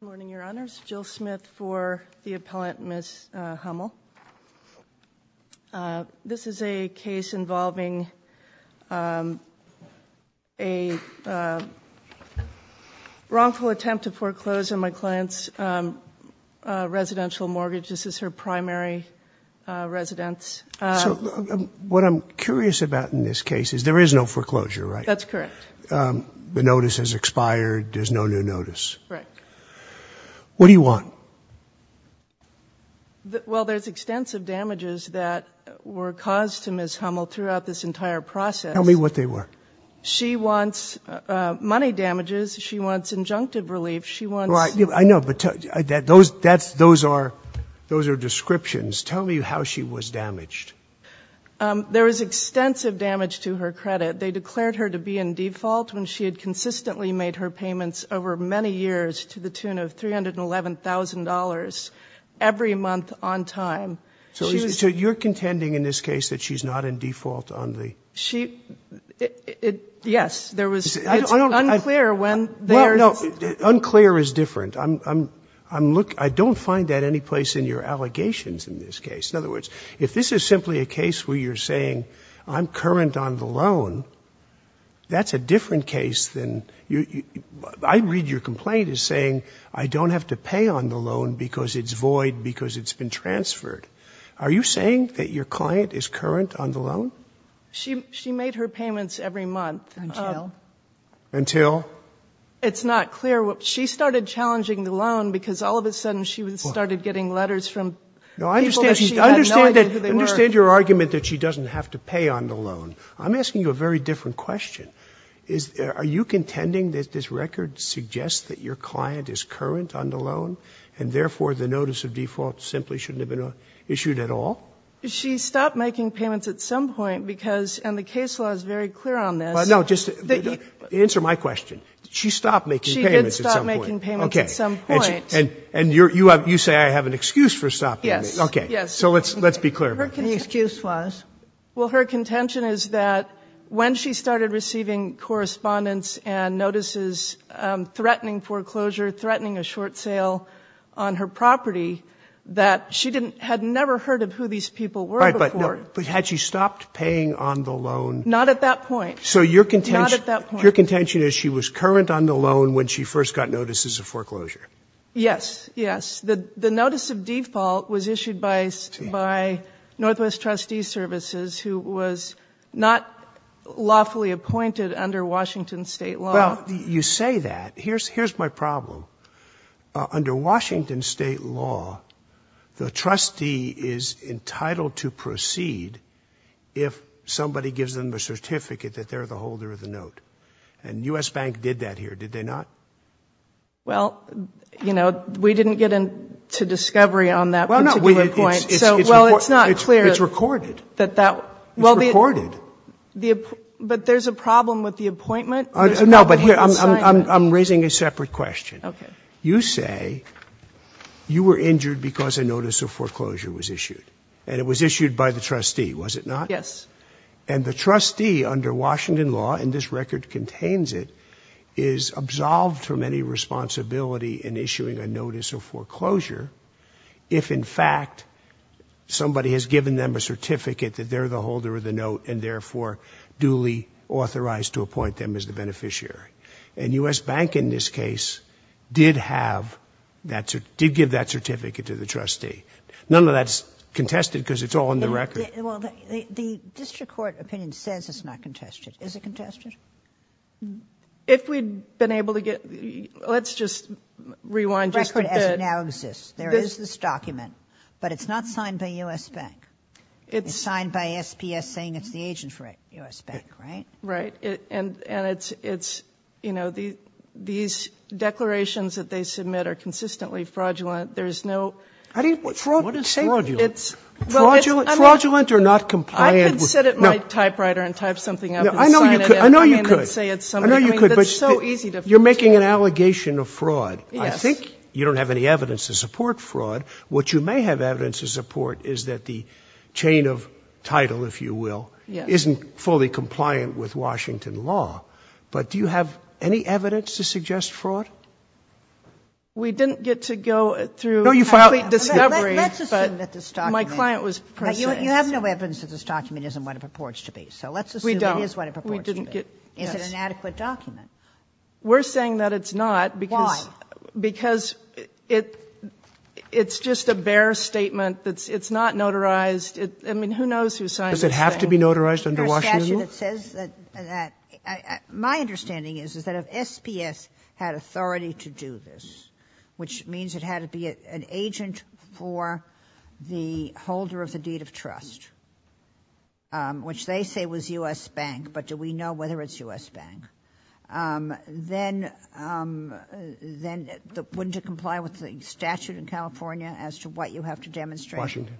Good morning, your honors. Jill Smith for the appellant, Ms. Hummel. This is a case involving a wrongful attempt to foreclose on my client's residential mortgage. This is her primary residence. What I'm curious about in this case is there is no foreclosure, right? That's correct. The notice has expired. There's no new notice. Right. What do you want? Well, there's extensive damages that were caused to Ms. Hummel throughout this entire process. Tell me what they were. She wants money damages. She wants injunctive relief. She wants... I know, but those are descriptions. Tell me how she was damaged. There was extensive damage to her credit. They declared her to be in default when she had consistently made her payments over many years to the tune of $311,000 every month on time. So you're contending in this case that she's not in default on the... Yes. It's unclear when... No, unclear is different. I don't find that any place in your allegations in this case. In other words, if this is simply a loan, that's a different case than... I read your complaint as saying, I don't have to pay on the loan because it's void, because it's been transferred. Are you saying that your client is current on the loan? She made her payments every month. Until? Until? It's not clear. She started challenging the loan because all of a sudden she started getting letters from people that she had no idea who they were. I understand your argument that she doesn't have to pay on the loan. I'm asking you a very different question. Are you contending that this record suggests that your client is current on the loan, and therefore the notice of default simply shouldn't have been issued at all? She stopped making payments at some point because, and the case law is very clear on this... No, just answer my question. Did she stop making payments at some point? She did stop making payments at some point. Okay. And you say I have an excuse for stopping payments. Yes. Okay. Yes. So let's be clear. The excuse was? Well, her contention is that when she started receiving correspondence and notices threatening foreclosure, threatening a short sale on her property, that she had never heard of who these people were before. But had she stopped paying on the loan? Not at that point. Not at that point. So your contention is she was current on the loan when she first got notices of foreclosure? Yes. Yes. The notice of default was issued by Northwest Trustee Services, who was not lawfully appointed under Washington state law. Well, you say that. Here's my problem. Under Washington state law, the trustee is entitled to proceed if somebody gives them a certificate that they're the Well, you know, we didn't get into discovery on that particular point. Well, it's not clear. It's recorded. It's recorded. But there's a problem with the appointment. No, but I'm raising a separate question. Okay. You say you were injured because a notice of foreclosure was issued. And it was issued by the trustee, was it not? Yes. And the trustee, under Washington law, and this record contains it, is absolved from any responsibility in issuing a notice of foreclosure if, in fact, somebody has given them a certificate that they're the holder of the note and therefore duly authorized to appoint them as the beneficiary. And U.S. Bank, in this case, did have that, did give that certificate to the trustee. None of that's contested because it's all in the record. Well, the district court opinion says it's not contested. Is it contested? If we'd been able to get the, let's just rewind just a bit. The record as it now exists. There is this document. But it's not signed by U.S. Bank. It's signed by SPS saying it's the agent for U.S. Bank, right? Right. And it's, you know, these declarations that they submit are consistently fraudulent. There's no fraud. What is fraudulent? Fraudulent or not compliant? I could sit at my typewriter and type something up and sign it. I know you could. I know you could. But you're making an allegation of fraud. I think you don't have any evidence to support fraud. What you may have evidence to support is that the chain of title, if you will, isn't fully compliant with Washington law. But do you have any evidence to suggest fraud? We didn't get to go through a complete discovery, but my client was precise. You have no evidence that this document isn't what it purports to be. So let's assume it is what it purports to be. We don't. We didn't get. Is it an adequate document? We're saying that it's not. Why? Because it's just a bare statement. It's not notarized. I mean, who knows who signed this thing? Does it have to be notarized under Washington law? My understanding is that if SPS had authority to do this, which means it had to be an agent for the holder of the deed of trust, which they say was U.S. Bank, but do we know whether it's U.S. Bank, then wouldn't it comply with the statute in California as to what you have to demonstrate? Washington.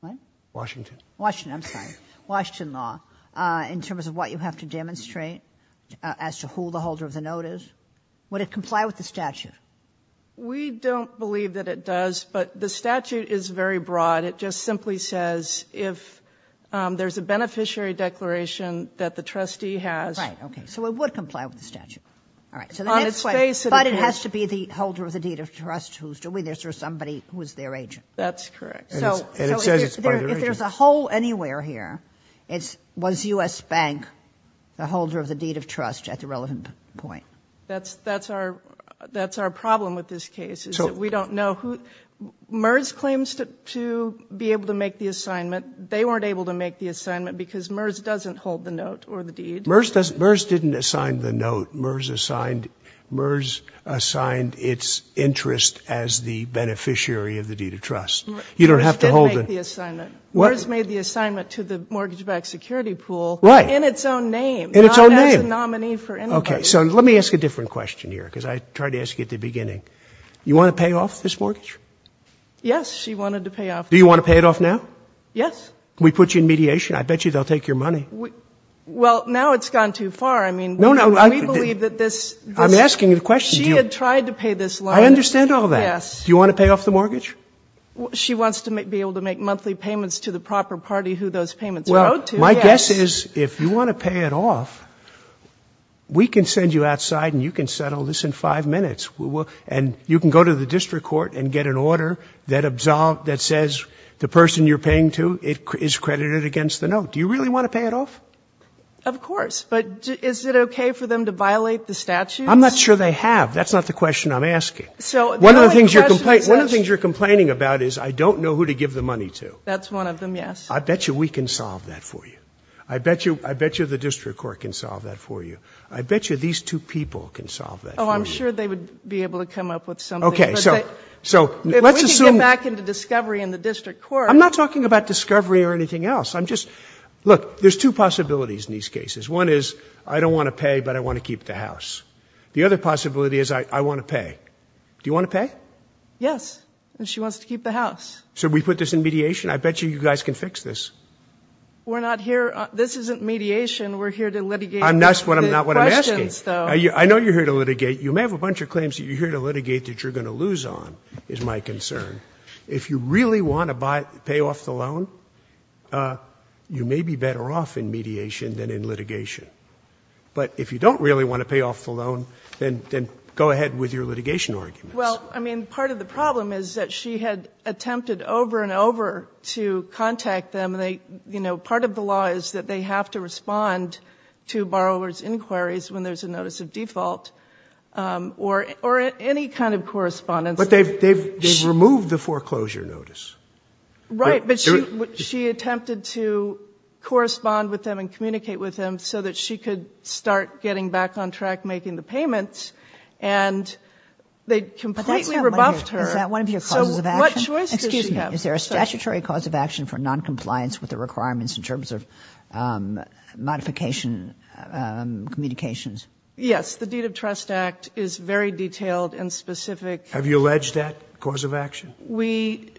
What? Washington. Washington. I'm sorry. Washington law in terms of what you have to demonstrate as to who the holder of the note is. Would it comply with the statute? We don't believe that it does, but the statute is very broad. It just simply says if there's a beneficiary declaration that the trustee has. Right. Okay. So it would comply with the statute. All right. So the next question. But it has to be the holder of the deed of trust who's doing this or somebody who is their agent. That's correct. And it has to be the holder of the deed of trust at the relevant point. That's our problem with this case is that we don't know who. MERS claims to be able to make the assignment. They weren't able to make the assignment because MERS doesn't hold the note or the deed. MERS didn't assign the note. MERS assigned its interest as the beneficiary of the deed of trust. You don't have to hold it. MERS made the assignment to the mortgage-backed security pool. Right. In its own name. In its own name. Not as a nominee for anybody. Okay. So let me ask a different question here, because I tried to ask you at the beginning. You want to pay off this mortgage? Yes. She wanted to pay off the mortgage. Do you want to pay it off now? Yes. Can we put you in mediation? I bet you they'll take your money. Well, now it's gone too far. I mean, you know, we believe that this is She had tried to pay this loan. I understand all that. Yes. Do you want to pay off the mortgage? She wants to be able to make monthly payments to the proper party who those payments are owed to. Well, my guess is if you want to pay it off, we can send you outside and you can settle this in five minutes. And you can go to the district court and get an order that says the person you're paying to is credited against the note. Do you really want to pay it off? Of course. But is it okay for them to violate the statutes? I'm not sure they have. That's not the question I'm asking. So one of the things you're complaining about is I don't know who to give the money to. That's one of them. Yes. I bet you we can solve that for you. I bet you. I bet you the district court can solve that for you. I bet you these two people can solve that. Oh, I'm sure they would be able to come up with some. Okay. So so let's assume back into discovery in the district court. I'm not talking about discovery or anything else. I'm just look, there's two possibilities in these cases. One is I don't want to pay, but I want to keep the house. The other possibility is I want to pay. Do you want to pay? Yes. And she wants to keep the house. So we put this in mediation. I bet you you guys can fix this. We're not here. This isn't mediation. We're here to litigate. That's what I'm not what I'm asking. I know you're here to litigate. You may have a bunch of claims that you're here to litigate that you're going to lose on is my concern. If you really want to buy pay off the loan, you may be better off in mediation than in litigation. But if you don't really want to pay off the loan, then then go ahead with your litigation arguments. Well, I mean, part of the problem is that she had attempted over and over to contact them. And they, you know, part of the law is that they have to respond to borrower's inquiries when there's a notice of default or or any kind of correspondence. But they've they've they've removed the foreclosure notice. Right. But she she attempted to correspond with them and communicate with them so that she could start getting back on track making the payments. And they completely rebuffed her. Is that one of your causes of action? So what choice does she have? Excuse me. Is there a statutory cause of action for noncompliance with the requirements in terms of modification communications? Yes. The Deed of Trust Act is very detailed and specific. Have you alleged that cause of action? We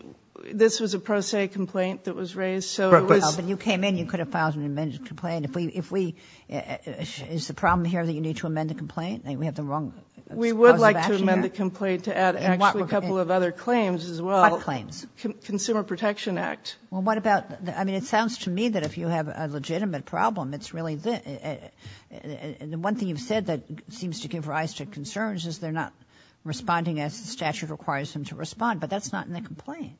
this was a pro se complaint that was raised. So when you came in, you could have filed an amended complaint. If we if we is the problem here that you need to amend the complaint and we have the wrong. We would like to amend the complaint to add a couple of other claims as well. Claims. Consumer Protection Act. Well, what about I mean, it sounds to me that if you have a legitimate problem, it's really the one thing you've said that seems to give rise to concerns is they're not responding as the statute requires them to respond. But that's not in the complaint.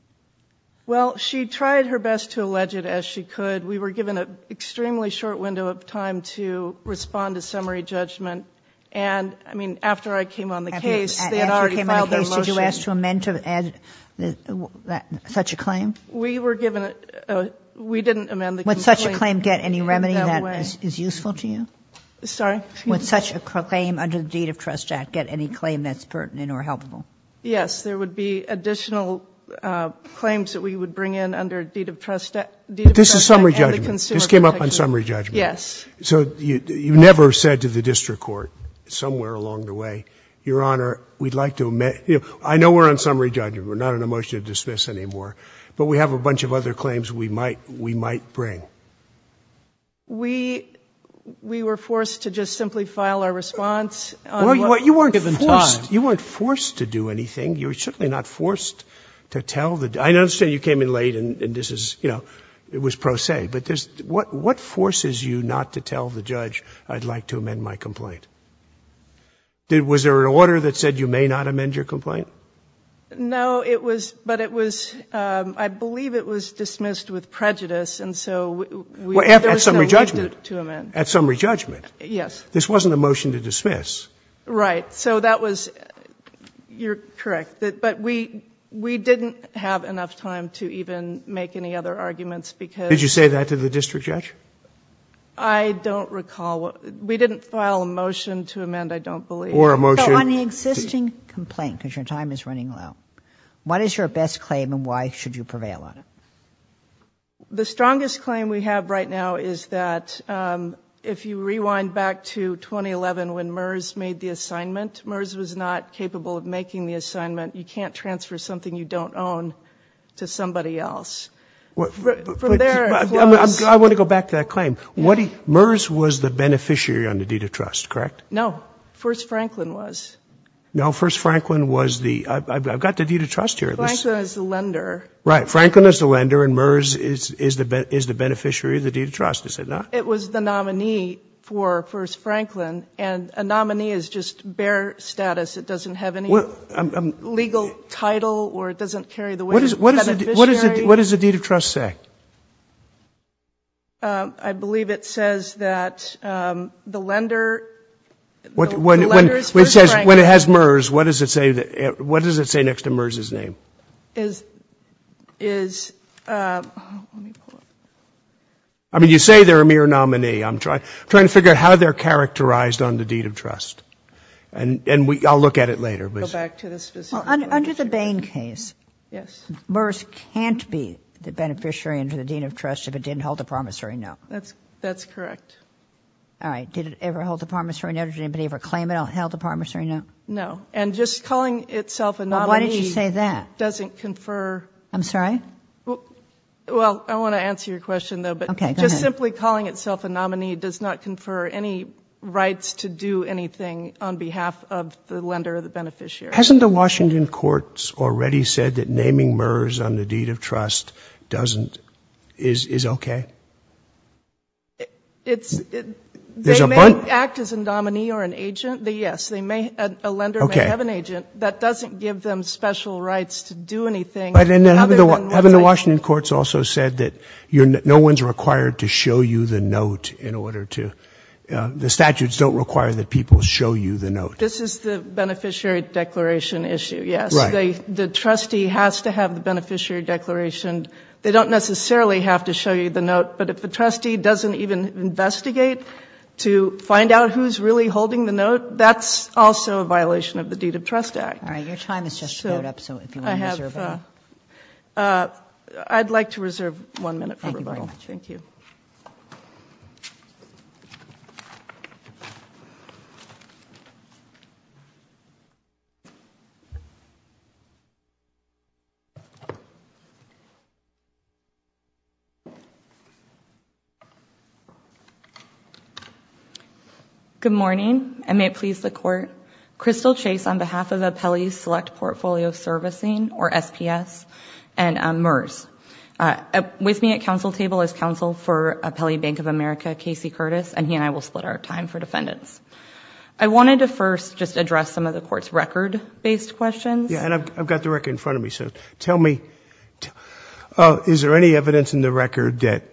Well, she tried her best to allege it as she could. We were given an extremely short window of time to respond to summary judgment. And I mean, after I came on the case, they had already filed a motion. After you came on the case, did you ask to amend to add such a claim? We were given a we didn't amend the complaint. Would such a claim get any remedy that is useful to you? Sorry? Would such a claim under the Deed of Trust Act get any claim that's pertinent or helpful? Yes, there would be additional claims that we would bring in under Deed of Trust Act. But this is summary judgment. This came up on summary judgment. Yes. So you never said to the district court somewhere along the way, Your Honor, we'd like to amend. I know we're on summary judgment. We're not on a motion to dismiss anymore. But we have a bunch of other claims we might we might bring. We we were forced to just simply file our response. Well, you weren't given time. You weren't forced to do anything. You were certainly not forced to tell the I understand you came in late and this is you know, it was pro se. But there's what what forces you not to tell the judge I'd like to amend my complaint? Was there an order that said you may not amend your complaint? No, it was but it was I believe it was dismissed with prejudice. And so there was no need to amend. At summary judgment? Yes. This wasn't a motion to dismiss. Right. So that was you're correct. But we we didn't have enough time to even make any other arguments because. Did you say that to the district judge? I don't recall. We didn't file a motion to amend. I don't believe. Or a motion. On the existing complaint, because your time is running low. What is your best claim and why should you prevail on it? The strongest claim we have right now is that if you rewind back to 2011, when MERS made the assignment, MERS was not capable of making the assignment. You can't transfer something you don't own to somebody else. Well, from there, I want to go back to that claim. What MERS was the beneficiary on the deed of trust, correct? No. First, Franklin was. No. First, Franklin was the I've got the deed of trust here. Franklin is the lender. Right. Franklin is the lender and MERS is the is the beneficiary of the deed of trust. Is it not? It was the nominee for First Franklin. And a nominee is just bare status. It doesn't have any legal title or it doesn't carry the what is what is it? What does the deed of trust say? I believe it says that the lender. What when it says when it has MERS, what does it say? What does it say next to MERS's name? Is is. I mean, you say they're a mere nominee, I'm trying to figure out how they're characterized on the deed of trust and I'll look at it later. But go back to this under the Bain case. Yes. MERS can't be the beneficiary under the deed of trust if it didn't hold the promissory note. That's that's correct. All right. Did it ever hold the promissory note? Did anybody ever claim it held the promissory note? No. And just calling itself and why did you say that? Doesn't confer. I'm sorry. Well, I want to answer your question, though. But just simply calling itself a nominee does not confer any rights to do anything on behalf of the lender or the beneficiary. Hasn't the Washington courts already said that naming MERS on the deed of trust doesn't is OK? It's it may act as a nominee or an agent. Yes, they may. A lender may have an agent that doesn't give them special rights to do anything. But in the Washington courts also said that no one's required to show you the note in order to the statutes don't require that people show you the note. This is the beneficiary declaration issue. Yes. The trustee has to have the beneficiary declaration. They don't necessarily have to show you the note. But if the trustee doesn't even investigate to find out who's really holding the note, that's also a violation of the deed of trust act. All right. Your time is just up. So I have I'd like to reserve one minute. Thank you. Good morning, and may it please the court, Crystal Chase, on behalf of Appellee Select Portfolio Servicing or SPS and MERS with me at counsel table as counsel for Appellee Bank of America, Casey Curtis, and he and I will split our time for defendants. I wanted to first just address some of the court's record based questions. Yeah. And I've got the record in front of me. So tell me, is there any evidence in the record that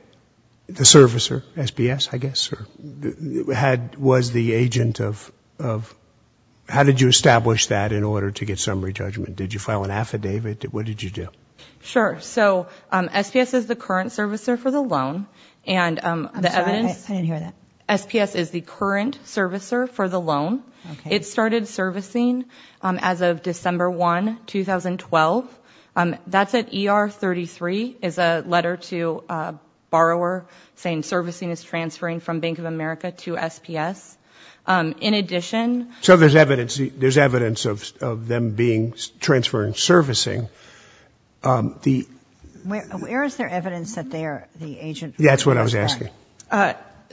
the servicer SPS, I guess, or had was the agent of of how did you establish that in order to get summary judgment? Did you file an affidavit? What did you do? Sure. So SPS is the current servicer for the loan. And I didn't hear that. SPS is the current servicer for the loan. It started servicing as of December 1, 2012. That's at ER 33 is a letter to a borrower saying servicing is transferring from Bank of America to SPS. In addition. So there's evidence there's evidence of them being transferring servicing. The where is there evidence that they are the agent? That's what I was asking.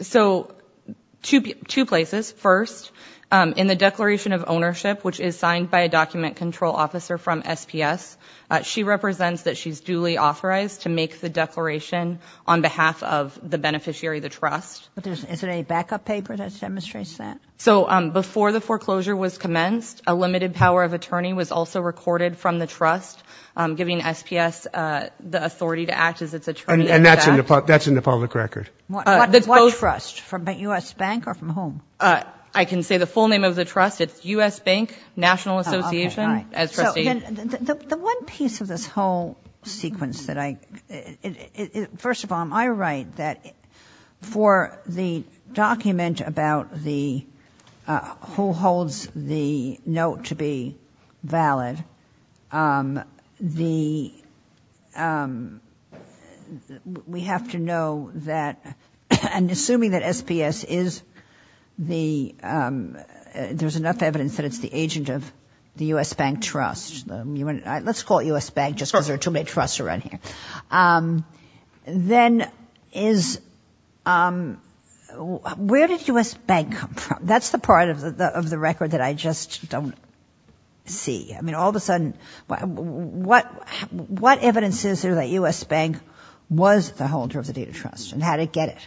So to two places. First, in the Declaration of Ownership, which is signed by a document control officer from SPS, she represents that she's duly authorized to make the declaration on behalf of the beneficiary, the trust. Is it a backup paper that demonstrates that? So before the foreclosure was commenced, a limited power of attorney was also recorded from the trust, giving SPS the authority to act as its attorney. And that's in the that's in the public record. That's what trust from the U.S. Bank or from whom? I can say the full name of the trust. It's U.S. Bank National Association. As the one piece of this whole sequence that I first of all, I write that for the document about the who holds the note to be valid, the we have to know that and assuming that SPS is the there's enough evidence that it's the agent of the U.S. Bank Trust. Let's call it U.S. Bank just because there are too many trusts around here. Then is where did U.S. Bank come from? That's the part of the of the record that I just don't see. I mean, all of a sudden, what what evidence is there that U.S. Bank was the holder of the deed of trust and how to get it?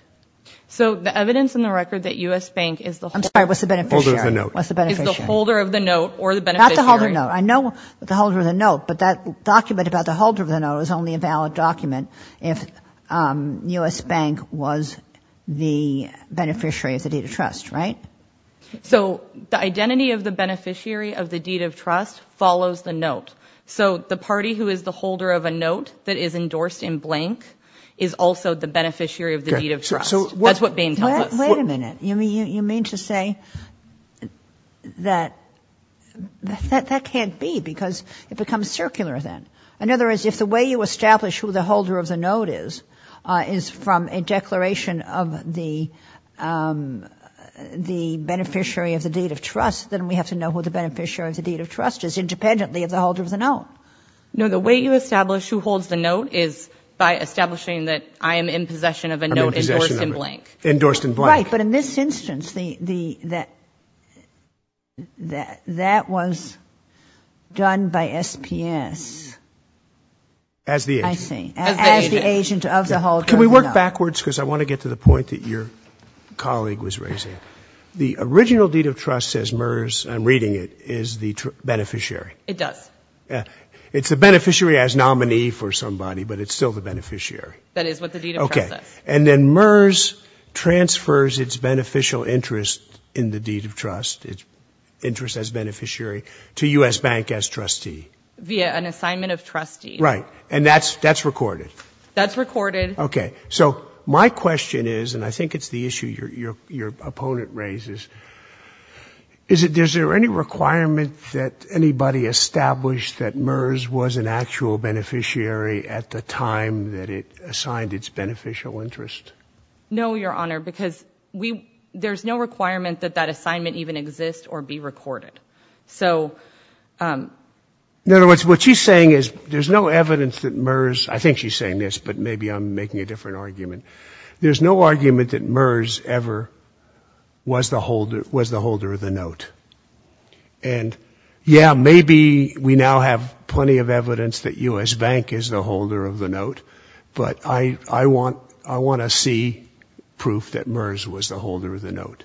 So the evidence in the record that U.S. Bank is the I'm sorry, what's the benefit of the note? What's the benefit of the holder of the note or the benefit of the note? I know the holder of the note. But that document about the holder of the note is only a valid document. If U.S. Bank was the beneficiary of the deed of trust. Right. So the identity of the beneficiary of the deed of trust follows the note. So the party who is the holder of a note that is endorsed in blank is also the beneficiary of the deed of trust. That's what Bain tells us. Wait a minute. You mean you mean to say that that that can't be because it becomes circular then. In other words, if the way you establish who the holder of the note is, is from a beneficiary of the deed of trust, then we have to know who the beneficiary of the deed of trust is independently of the holder of the note. No, the way you establish who holds the note is by establishing that I am in possession of a note endorsed in blank. Endorsed in blank. Right. But in this instance, that was done by SPS. As the agent. As the agent of the holder of the note. Can we work backwards? Because I want to get to the point that your colleague was raising. The original deed of trust, says MERS, I'm reading it, is the beneficiary. It does. It's the beneficiary as nominee for somebody, but it's still the beneficiary. That is what the deed of trust says. And then MERS transfers its beneficial interest in the deed of trust, its interest as beneficiary, to U.S. Bank as trustee. Via an assignment of trustee. Right. And that's that's recorded. That's recorded. Okay. So my question is, and I think it's the issue your opponent raises, is it, is there any requirement that anybody established that MERS was an actual beneficiary at the time that it assigned its beneficial interest? No, Your Honor, because we, there's no requirement that that assignment even exist or be recorded. So. In other words, what she's saying is there's no evidence that MERS, I think she's saying this, but maybe I'm making a different argument. There's no argument that MERS ever was the holder, was the holder of the note. And yeah, maybe we now have plenty of evidence that U.S. Bank is the holder of the note, but I, I want, I want to see proof that MERS was the holder of the note.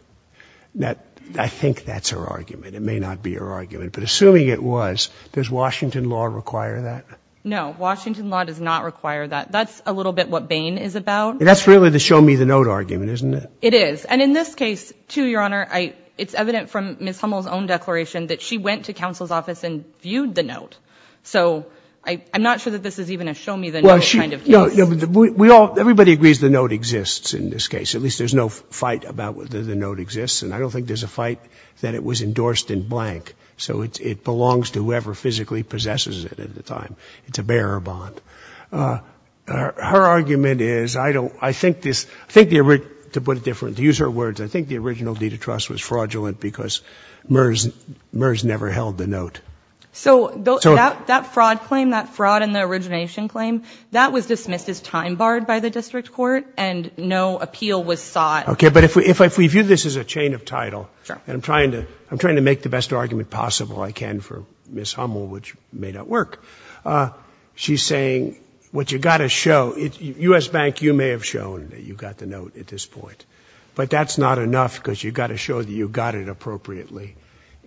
That, I think that's her argument. It may not be her argument, but assuming it was, does Washington law require that? No. Washington law does not require that. That's a little bit what Bain is about. And that's really the show me the note argument, isn't it? It is. And in this case too, Your Honor, I, it's evident from Ms. Hummel's own declaration that she went to counsel's office and viewed the note. So I, I'm not sure that this is even a show me the note kind of case. Well, she, no, we all, everybody agrees the note exists in this case. At least there's no fight about whether the note exists. And I don't think there's a fight that it was endorsed in blank. So it's, it belongs to whoever physically possesses it at the time. It's a bearer bond. Her argument is, I don't, I think this, I think the, to put it different, to use her words, I think the original deed of trust was fraudulent because MERS, MERS never held the note. So that fraud claim, that fraud in the origination claim, that was dismissed as time barred by the district court and no appeal was sought. Okay. But if we, if I, if we view this as a chain of title and I'm trying to, I'm trying to make the best argument possible I can for Ms. Hummel, which may not work. She's saying what you got to show, U.S. Bank, you may have shown that you've got the note at this point, but that's not enough because you've got to show that you got it appropriately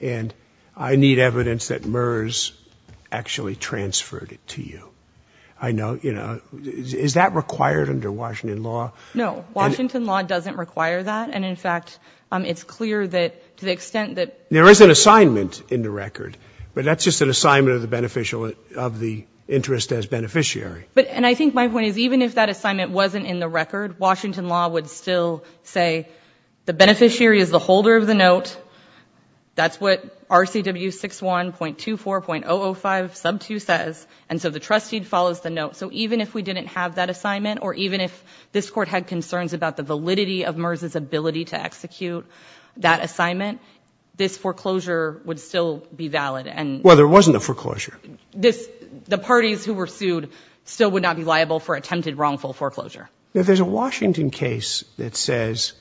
and I need evidence that MERS actually transferred it to you. I know, you know, is that required under Washington law? No, Washington law doesn't require that. And in fact, it's clear that to the extent that there is an assignment in the record, but that's just an assignment of the beneficial, of the interest as beneficiary. But, and I think my point is even if that assignment wasn't in the record, Washington law would still say the beneficiary is the holder of the note. That's what RCW 61.24.005 sub two says. And so the trustee follows the note. So even if we didn't have that assignment, or even if this court had concerns about the validity of MERS's ability to execute that assignment, this foreclosure would still be valid. And well, there wasn't a foreclosure. This, the parties who were sued still would not be liable for attempted wrongful foreclosure. Now there's a Washington case that says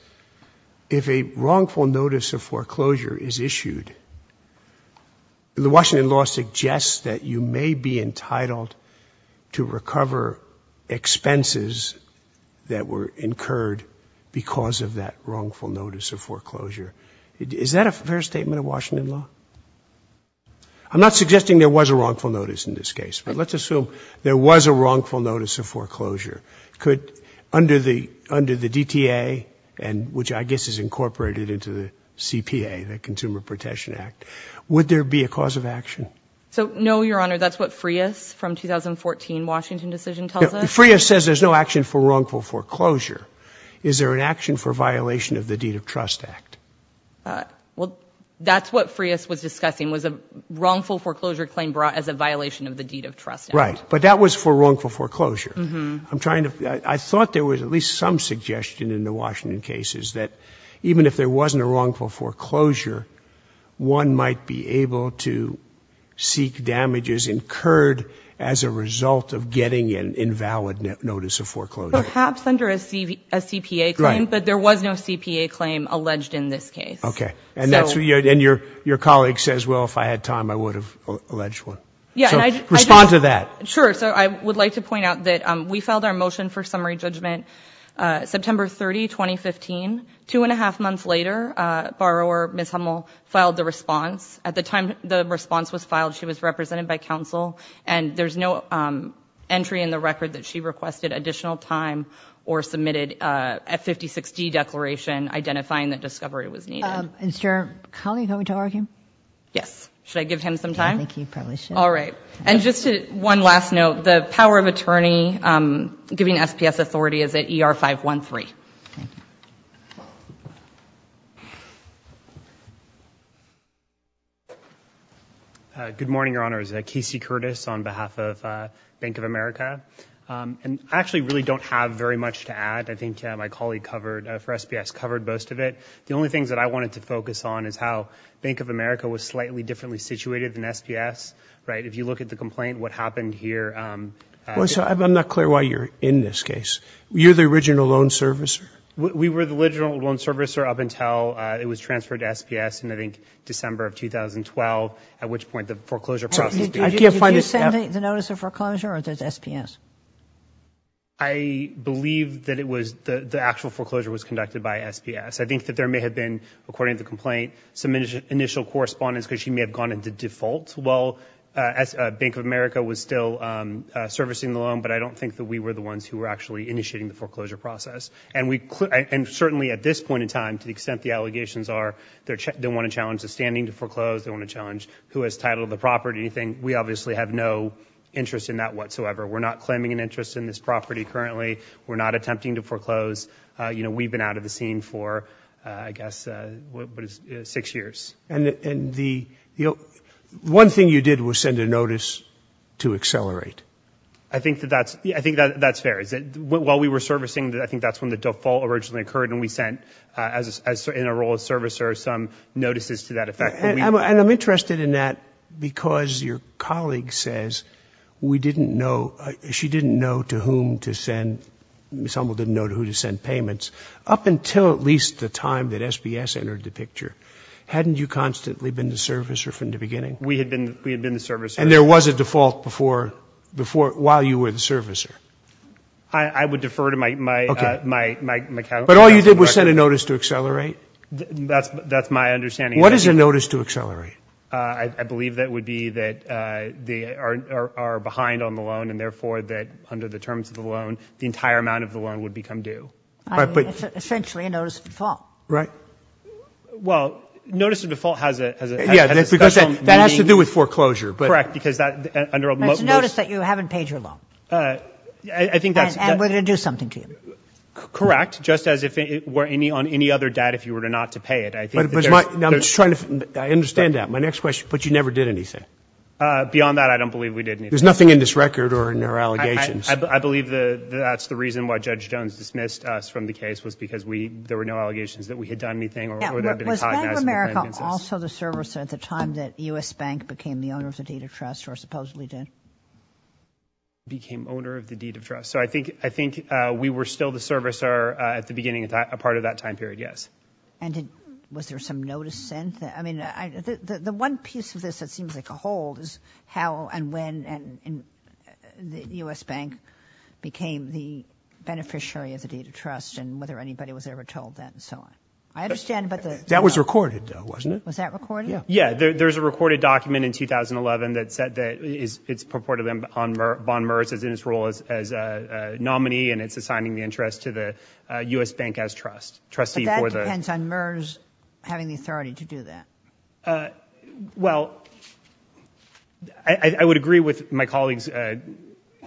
if a wrongful notice of foreclosure is issued, the Washington law suggests that you may be entitled to recover expenses that were incurred because of that wrongful notice of foreclosure. Is that a fair statement of Washington law? I'm not suggesting there was a wrongful notice in this case, but let's assume there was a wrongful notice of foreclosure. Could, under the, under the DTA, and which I guess is incorporated into the CPA, the Consumer Protection Act, would there be a cause of action? So no, Your Honor, that's what Frias from 2014 Washington decision tells us. Frias says there's no action for wrongful foreclosure. Is there an action for violation of the deed of trust act? Uh, well, that's what Frias was discussing was a wrongful foreclosure claim brought as a violation of the deed of trust. Right. But that was for wrongful foreclosure. I'm trying to, I thought there was at least some suggestion in the Washington cases that even if there wasn't a wrongful foreclosure, one might be able to seek damages incurred as a result of getting an invalid notice of foreclosure. Perhaps under a CPA claim, but there was no CPA claim alleged in this case. Okay. And that's what you, and your, your colleague says, well, if I had time, I would have alleged one. Yeah. Respond to that. Sure. So I would like to point out that, um, we filed our motion for summary judgment, uh, September 30, 2015, two and a half months later, uh, borrower, Ms. Hummel filed the response. At the time the response was filed, she was represented by counsel and there's no, um, entry in the record that she requested additional time or submitted, uh, a 56 D declaration identifying that discovery was needed. Is your colleague going to argue? Yes. Should I give him some time? All right. And just to one last note, the power of attorney, um, giving SPS Uh, good morning, Your Honor. Is that Casey Curtis on behalf of, uh, bank of America? Um, and I actually really don't have very much to add. I think, uh, my colleague covered for SPS covered most of it. The only things that I wanted to focus on is how bank of America was slightly differently situated than SPS, right? If you look at the complaint, what happened here? Um, well, so I'm not clear why you're in this case. You're the original loan servicer. We were the original loan servicer up until, uh, it was transferred to SPS in, I think, December of 2012, at which point the foreclosure process did you send the notice of foreclosure or does SPS? I believe that it was the, the actual foreclosure was conducted by SPS. I think that there may have been, according to the complaint, some initial correspondence, cause she may have gone into default while, uh, as a bank of America was still, um, uh, servicing the loan, but I don't think that we were the ones who were actually initiating the foreclosure process. And we, and certainly at this point in time, to the extent the allegations are, they're, they want to challenge the standing to foreclose. They want to challenge who has titled the property, anything. We obviously have no interest in that whatsoever. We're not claiming an interest in this property currently. We're not attempting to foreclose. Uh, you know, we've been out of the scene for, uh, I guess, uh, six years. And the, you know, one thing you did was send a notice to accelerate. I think that that's, yeah, I think that that's fair. Is it while we were servicing that I think that's when the default originally occurred and we sent, uh, as a, as in a role of servicer, some notices to that effect. And I'm interested in that because your colleague says we didn't know, she didn't know to whom to send, Ms. Hummel didn't know who to send payments up until at least the time that SBS entered the picture. Hadn't you constantly been the servicer from the beginning? We had been, we had been the servicer. And there was a default before, before, while you were the servicer. I would defer to my, my, uh, my, my, my, but all you did was send a notice to accelerate. That's, that's my understanding. What is a notice to accelerate? Uh, I believe that would be that, uh, they are, are, are behind on the loan and therefore that under the terms of the loan, the entire amount of the loan would become due. All right. But essentially a notice of default, right? Well, notice of default has a, has a, yeah, that has to do with foreclosure, but correct because that under a notice that you haven't paid your loan. Uh, I think that's going to do something to you. Correct. Just as if it were any on any other debt, if you were to not to pay it, I think. Now I'm just trying to, I understand that. My next question, but you never did anything. Uh, beyond that, I don't believe we did anything. There's nothing in this record or in their allegations. I believe the, that's the reason why judge Jones dismissed us from the case was because we, there were no allegations that we had done anything. Or was that America also the servicer at the time that U.S. Bank became the owner of the data trust or supposedly did? Became owner of the deed of trust. So I think, I think, uh, we were still the servicer, uh, at the beginning of that, a part of that time period. Yes. And did, was there some notice sent that, I mean, I, the, the one piece of this that seems like a hold is how and when, and the U.S. Bank became the beneficiary of the deed of trust and whether anybody was ever told that and so on. I understand, but that was recorded though, wasn't it? Was that recorded? Yeah, there, there's a recorded document in 2011 that said that is, it's purported on Merz, bond Merz is in his role as, as a nominee and it's assigning the interest to the U.S. Bank as trust, trustee. But that depends on Merz having the authority to do that. Uh, well, I, I would agree with my colleagues, uh,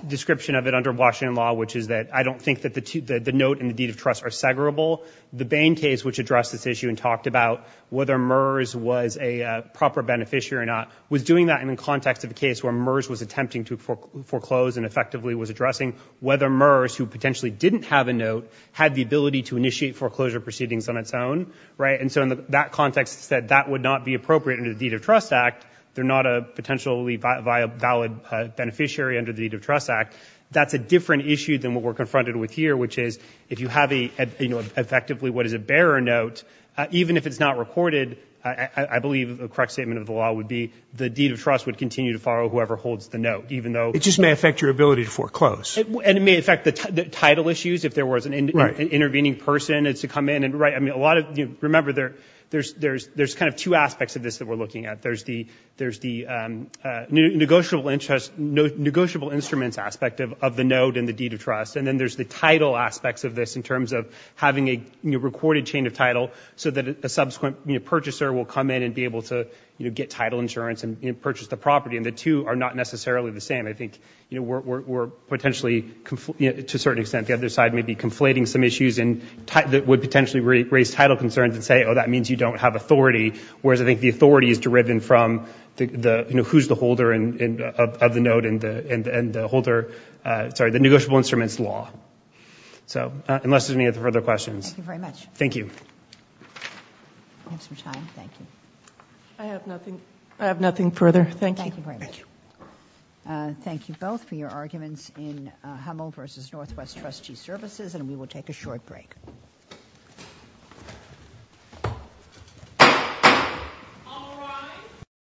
description of it under Washington law, which is that I don't think that the two, the, the note and the deed of trust are segregable. The Bain case, which addressed this issue and talked about whether Merz was a proper beneficiary or not, was doing that in the context of the case where Merz was attempting to fore, foreclose and effectively was addressing whether Merz, who potentially didn't have a note, had the ability to initiate foreclosure proceedings on its own. Right. And so in that context said that would not be appropriate under the deed of trust act. They're not a potentially valid, uh, beneficiary under the deed of trust act. That's a different issue than what we're confronted with here, which is if you have a, you know, effectively, what is a bearer note, uh, even if it's not recorded, I believe the correct statement of the law would be the deed of trust would continue to follow whoever holds the note, even though it just may affect your ability to foreclose. And it may affect the title issues. If there was an intervening person, it's to come in and write. I mean, a lot of, you remember there, there's, there's, there's kind of two aspects of this that we're looking at. There's the, there's the, um, uh, new negotiable interest, no negotiable instruments aspect of, of the note and the deed of trust. And then there's the title aspects of this in terms of having a recorded chain of title so that a subsequent purchaser will come in and be able to, you know, get title insurance and purchase the property. And the two are not necessarily the same. I think, you know, we're, we're, we're potentially to a certain extent, the other side may be conflating some issues and that would potentially raise title concerns and say, oh, that means you don't have authority. Whereas I think the authority is derived from the, the, you know, who's the holder and of the note and the, and the holder, uh, sorry, the negotiable instruments law. So, uh, unless there's any other further questions, thank you. I have some time. Thank you. I have nothing. I have nothing further. Thank you. Uh, thank you both for your arguments in, uh, Hummel versus Northwest trustee services, and we will take a short break.